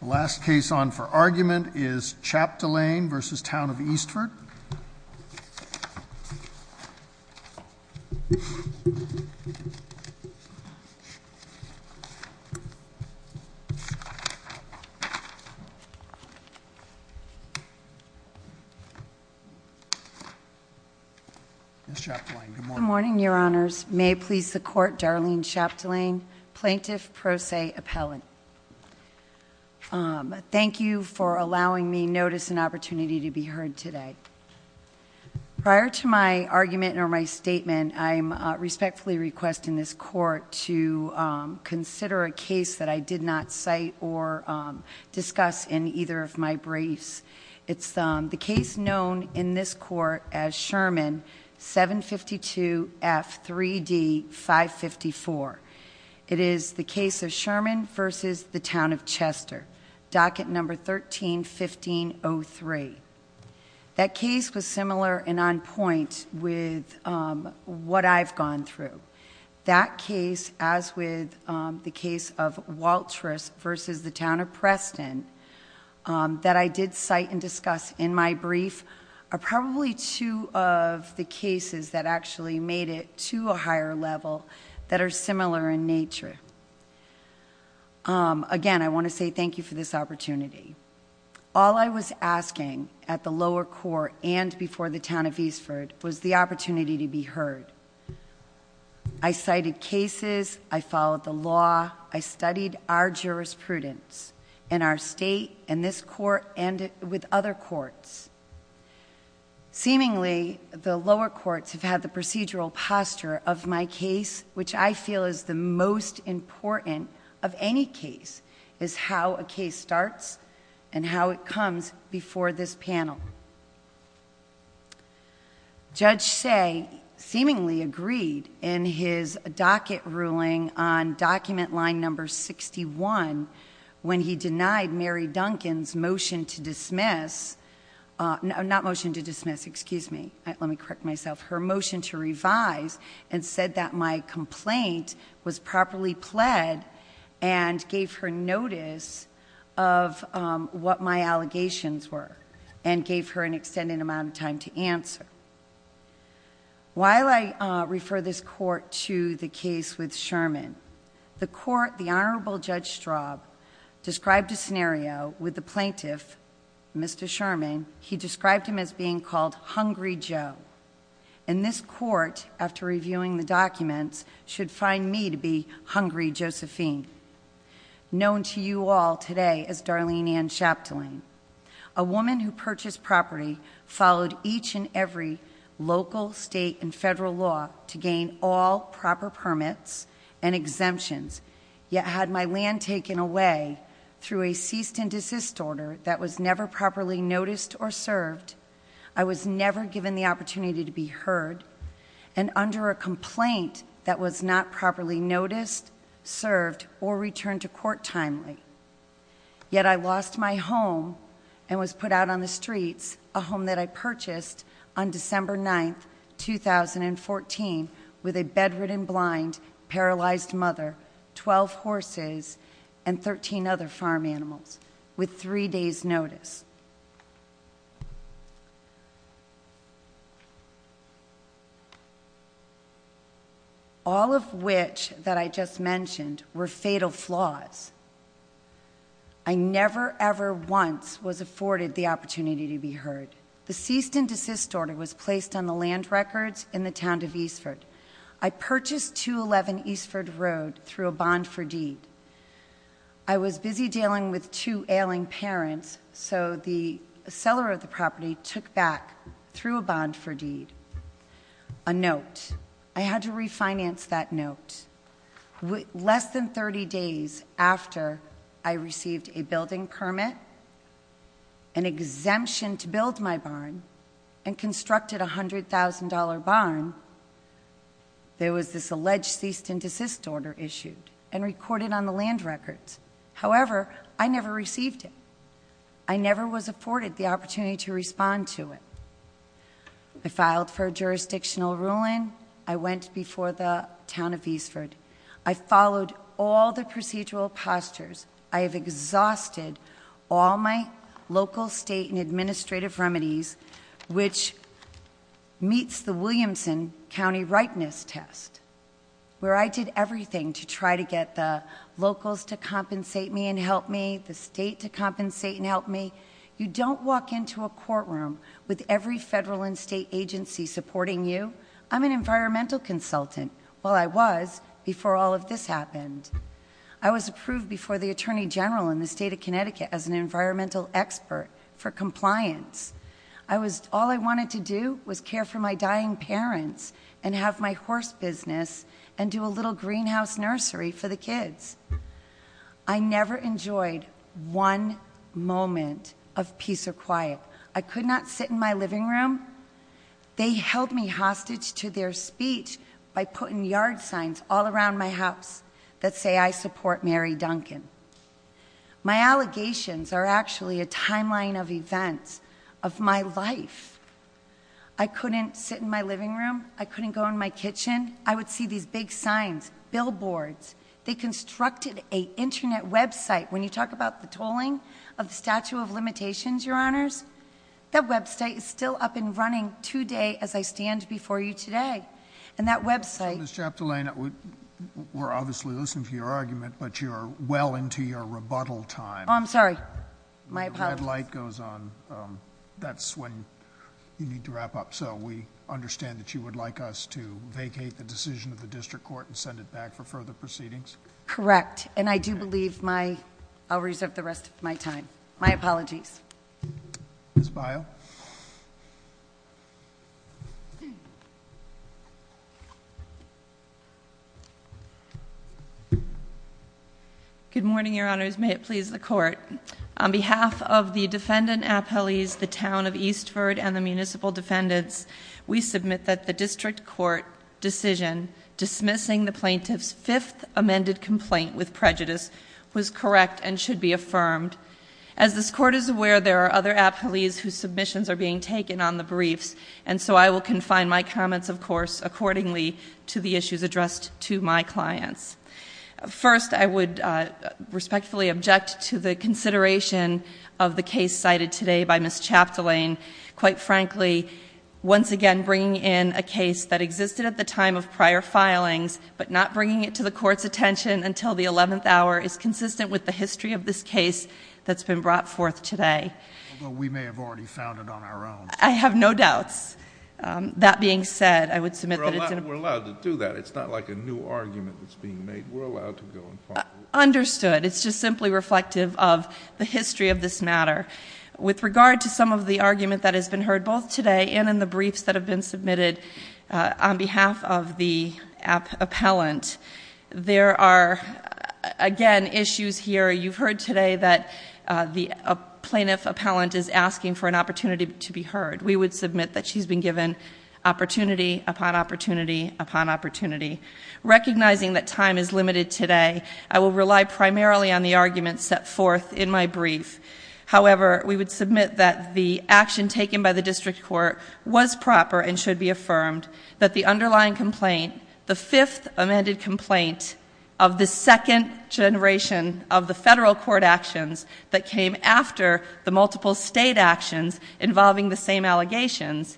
The last case on for argument is Chaptelaine v. Town of Eastford. Ms. Chapdelaine, good morning. Good morning, Your Honors. May it please the Court, Darlene Chapdelaine, Plaintiff Pro Se Appellant. Thank you for allowing me notice and opportunity to be heard today. Prior to my argument or my statement, I respectfully request in this court to consider a case that I did not cite or discuss in either of my briefs. It's the case known in this court as Sherman 752F3D554. It is the case of Sherman v. The Town of Chester, docket number 131503. That case was similar and on point with what I've gone through. That case, as with the case of Waltress v. The Town of Preston, that I did cite and discuss in my brief, are probably two of the cases that actually made it to a higher level that are similar in nature. Again, I want to say thank you for this opportunity. All I was asking at the lower court and before the town of Eastford was the opportunity to be heard. I cited cases, I followed the law, I studied our jurisprudence in our state, in this court, and with other courts. Seemingly, the lower courts have had the procedural posture of my case, which I feel is the most important of any case, is how a case starts and how it comes before this panel. Judge Say seemingly agreed in his docket ruling on document line number 61, when he denied Mary Duncan's motion to dismiss, not motion to dismiss, excuse me. Let me correct myself. Her motion to revise and said that my complaint was properly pled and I gave her notice of what my allegations were and gave her an extended amount of time to answer. While I refer this court to the case with Sherman, the court, the Honorable Judge Straub, described a scenario with the plaintiff, Mr. Sherman. He described him as being called Hungry Joe. And this court, after reviewing the documents, should find me to be Hungry Josephine. Known to you all today as Darlene Ann Chaptaline. A woman who purchased property, followed each and every local, state, and federal law to gain all proper permits and exemptions. Yet had my land taken away through a cease and desist order that was never properly noticed or served. I was never given the opportunity to be heard. And under a complaint that was not properly noticed, served, or returned to court timely. Yet I lost my home and was put out on the streets, a home that I purchased on December 9th, 2014, with a bedridden, blind, paralyzed mother, 12 horses, and 13 other farm animals, with three days notice. All of which that I just mentioned were fatal flaws. I never, ever once was afforded the opportunity to be heard. The cease and desist order was placed on the land records in the town of Eastford. I purchased 211 Eastford Road through a bond for deed. I was busy dealing with two ailing parents, so the seller of the property took back, through a bond for deed, a note. I had to refinance that note. Less than 30 days after I received a building permit, an exemption to build my barn, and constructed a $100,000 barn, there was this alleged cease and desist order issued and recorded on the land records. However, I never received it. I never was afforded the opportunity to respond to it. I filed for jurisdictional ruling. I went before the town of Eastford. I followed all the procedural postures. I have exhausted all my local, state, and administrative remedies, which meets the Williamson County Rightness Test, where I did everything to try to get the locals to compensate me and help me, the state to compensate and help me. You don't walk into a courtroom with every federal and state agency supporting you. I'm an environmental consultant. Well, I was before all of this happened. I was approved before the Attorney General in the state of Connecticut as an environmental expert for compliance. All I wanted to do was care for my dying parents and have my horse business and do a little greenhouse nursery for the kids. I never enjoyed one moment of peace or quiet. I could not sit in my living room. They held me hostage to their speech by putting yard signs all around my house that say I support Mary Duncan. My allegations are actually a timeline of events of my life. I couldn't sit in my living room. I couldn't go in my kitchen. I would see these big signs, billboards. They constructed a Internet website. When you talk about the tolling of the Statue of Limitations, Your Honors, that website is still up and running today as I stand before you today. And that website- So, Ms. Chaptolaine, we're obviously listening to your argument, but you're well into your rebuttal time. I'm sorry. My apologies. The red light goes on. That's when you need to wrap up. So we understand that you would like us to vacate the decision of the district court and send it back for further proceedings? Correct, and I do believe my, I'll reserve the rest of my time. My apologies. Ms. Bile. Good morning, Your Honors. May it please the court. On behalf of the defendant appellees, the town of Eastford, and the municipal defendants, we submit that the district court decision dismissing the plaintiff's fifth amended complaint with prejudice was correct and should be affirmed. As this court is aware, there are other appellees whose submissions are being taken on the briefs. And so I will confine my comments, of course, accordingly to the issues addressed to my clients. First, I would respectfully object to the consideration of the case cited today by Ms. Chaptolaine. Quite frankly, once again bringing in a case that existed at the time of prior filings, but not bringing it to the court's attention until the 11th hour is consistent with the history of this case that's been brought forth today. Although we may have already found it on our own. I have no doubts. That being said, I would submit that it's- We're allowed to do that. It's not like a new argument that's being made. We're allowed to go and find it. Understood. It's just simply reflective of the history of this matter. With regard to some of the argument that has been heard both today and in the briefs that have been submitted on behalf of the appellant. There are, again, issues here. You've heard today that the plaintiff appellant is asking for an opportunity to be heard. We would submit that she's been given opportunity upon opportunity upon opportunity. Recognizing that time is limited today, I will rely primarily on the arguments set forth in my brief. However, we would submit that the action taken by the district court was proper and should be affirmed that the underlying complaint, the fifth amended complaint of the second generation of the federal court actions that came after the multiple state actions involving the same allegations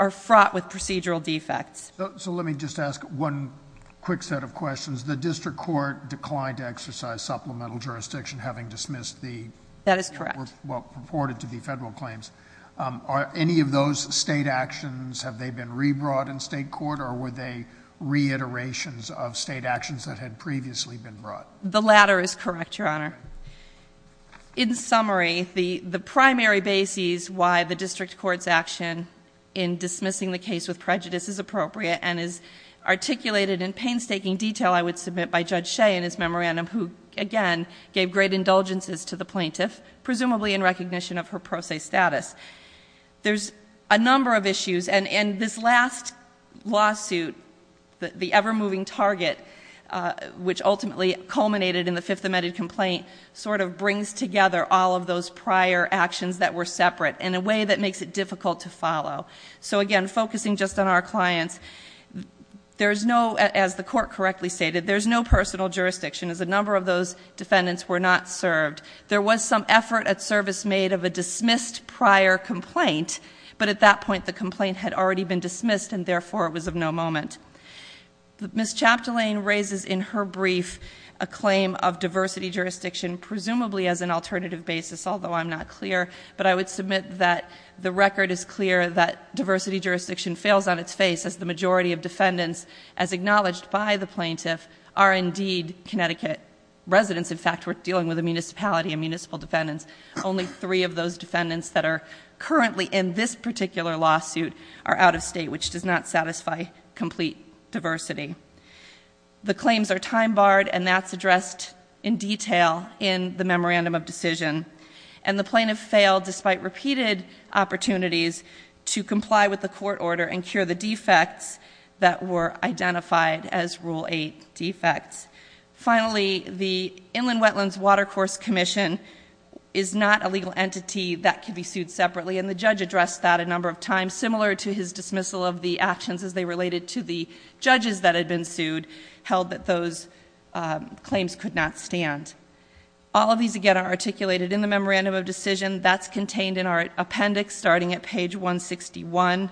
are fraught with procedural defects. So let me just ask one quick set of questions. The district court declined to exercise supplemental jurisdiction having dismissed the- That is correct. What purported to be federal claims. Are any of those state actions, have they been re-brought in state court or were they reiterations of state actions that had previously been brought? The latter is correct, your honor. In summary, the primary basis why the district court's action in dismissing the case with prejudice is appropriate and is articulated in painstaking detail, I would submit, by Judge Shea in his memorandum, who again gave great indulgences to the plaintiff, presumably in recognition of her pro se status. There's a number of issues, and this last lawsuit, the ever moving target, which ultimately culminated in the fifth amended complaint, sort of brings together all of those prior actions that were separate in a way that makes it difficult to follow. So again, focusing just on our clients, there's no, as the court correctly stated, there's no personal jurisdiction as a number of those defendants were not served. There was some effort at service made of a dismissed prior complaint, but at that point the complaint had already been dismissed and therefore it was of no moment. Ms. Chaptolaine raises in her brief a claim of diversity jurisdiction, presumably as an alternative basis, although I'm not clear, but I would submit that the record is clear that diversity jurisdiction fails on its face as the majority of defendants, as acknowledged by the plaintiff, are indeed Connecticut residents. In fact, we're dealing with a municipality and municipal defendants. Only three of those defendants that are currently in this particular lawsuit are out of state, which does not satisfy complete diversity. The claims are time barred and that's addressed in detail in the memorandum of decision. And the plaintiff failed, despite repeated opportunities, to comply with the court order and cure the defects that were identified as rule eight defects. Finally, the Inland Wetlands Watercourse Commission is not a legal entity that can be sued separately. And the judge addressed that a number of times, similar to his dismissal of the actions as they related to the judges that had been sued. Held that those claims could not stand. All of these, again, are articulated in the memorandum of decision. That's contained in our appendix, starting at page 161.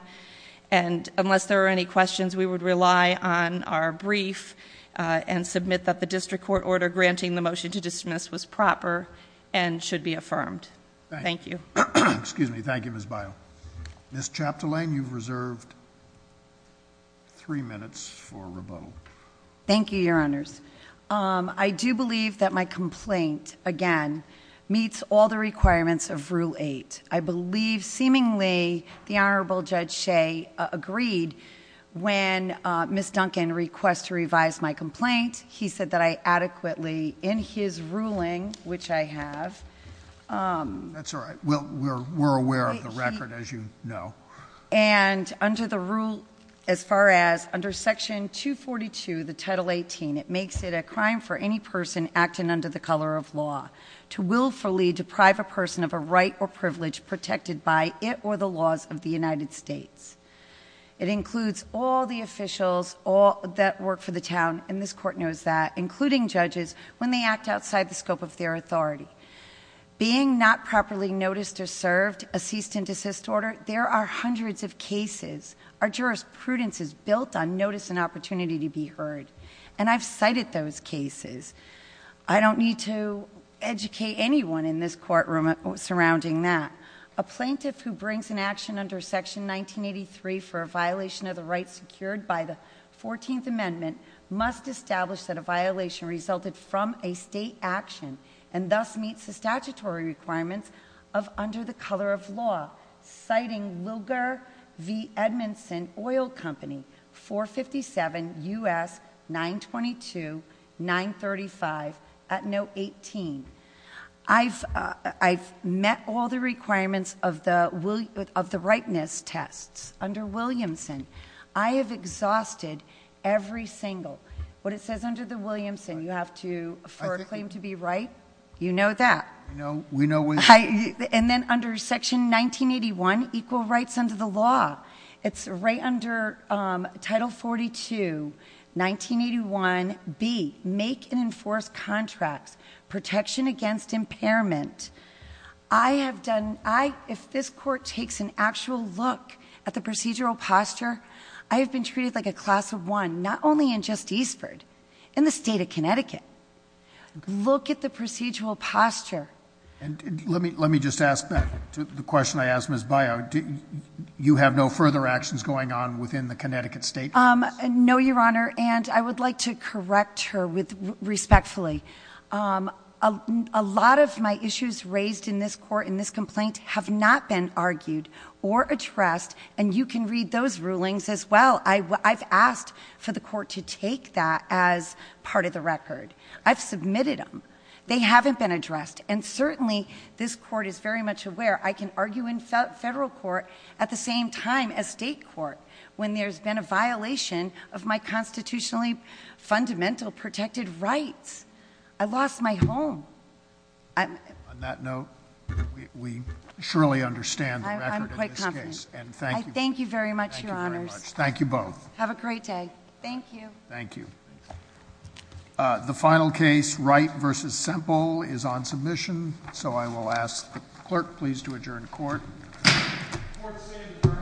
And unless there are any questions, we would rely on our brief and submit that the district court order granting the motion to dismiss was proper and should be affirmed. Thank you. Excuse me. Thank you, Ms. Bile. Ms. Chaptalain, you've reserved three minutes for rebuttal. Thank you, your honors. I do believe that my complaint, again, meets all the requirements of rule eight. I believe, seemingly, the Honorable Judge Shea agreed. When Ms. Duncan requests to revise my complaint, he said that I adequately, in his ruling, which I have. That's all right, we're aware of the record, as you know. And under the rule, as far as under section 242, the title 18, it makes it a crime for any person acting under the color of law. To willfully deprive a person of a right or privilege protected by it or the laws of the United States. It includes all the officials that work for the town, and this court knows that, including judges, when they act outside the scope of their authority. Being not properly noticed or served, a cease and desist order, there are hundreds of cases. Our jurisprudence is built on notice and opportunity to be heard. And I've cited those cases. I don't need to educate anyone in this courtroom surrounding that. A plaintiff who brings an action under section 1983 for a violation of the rights secured by the 14th amendment must establish that a violation resulted from a state action and thus meets the statutory requirements of under the color of law. Citing Wilger v Edmondson Oil Company 457 US 922-935 at note 18. I've met all the requirements of the rightness tests under Williamson. I have exhausted every single, what it says under the Williamson, you have to for a claim to be right. You know that. And then under section 1981, equal rights under the law. It's right under title 42, 1981B, make and enforce contracts, protection against impairment. I have done, if this court takes an actual look at the procedural posture, I have been treated like a class of one, not only in just Eastford, in the state of Connecticut. Look at the procedural posture. And let me just ask back to the question I asked Ms. Bayou. You have no further actions going on within the Connecticut state? No, Your Honor, and I would like to correct her respectfully. A lot of my issues raised in this court, in this complaint, have not been argued or addressed. And you can read those rulings as well. I've asked for the court to take that as part of the record. I've submitted them. They haven't been addressed. And certainly, this court is very much aware. I can argue in federal court at the same time as state court when there's been a violation of my constitutionally fundamental protected rights. I lost my home. On that note, we surely understand the record of this case. I'm quite confident. And thank you. Thank you very much, Your Honors. Thank you both. Have a great day. Thank you. Thank you. The final case, Wright versus Semple, is on submission. So I will ask the clerk, please, to adjourn court. Court is adjourned.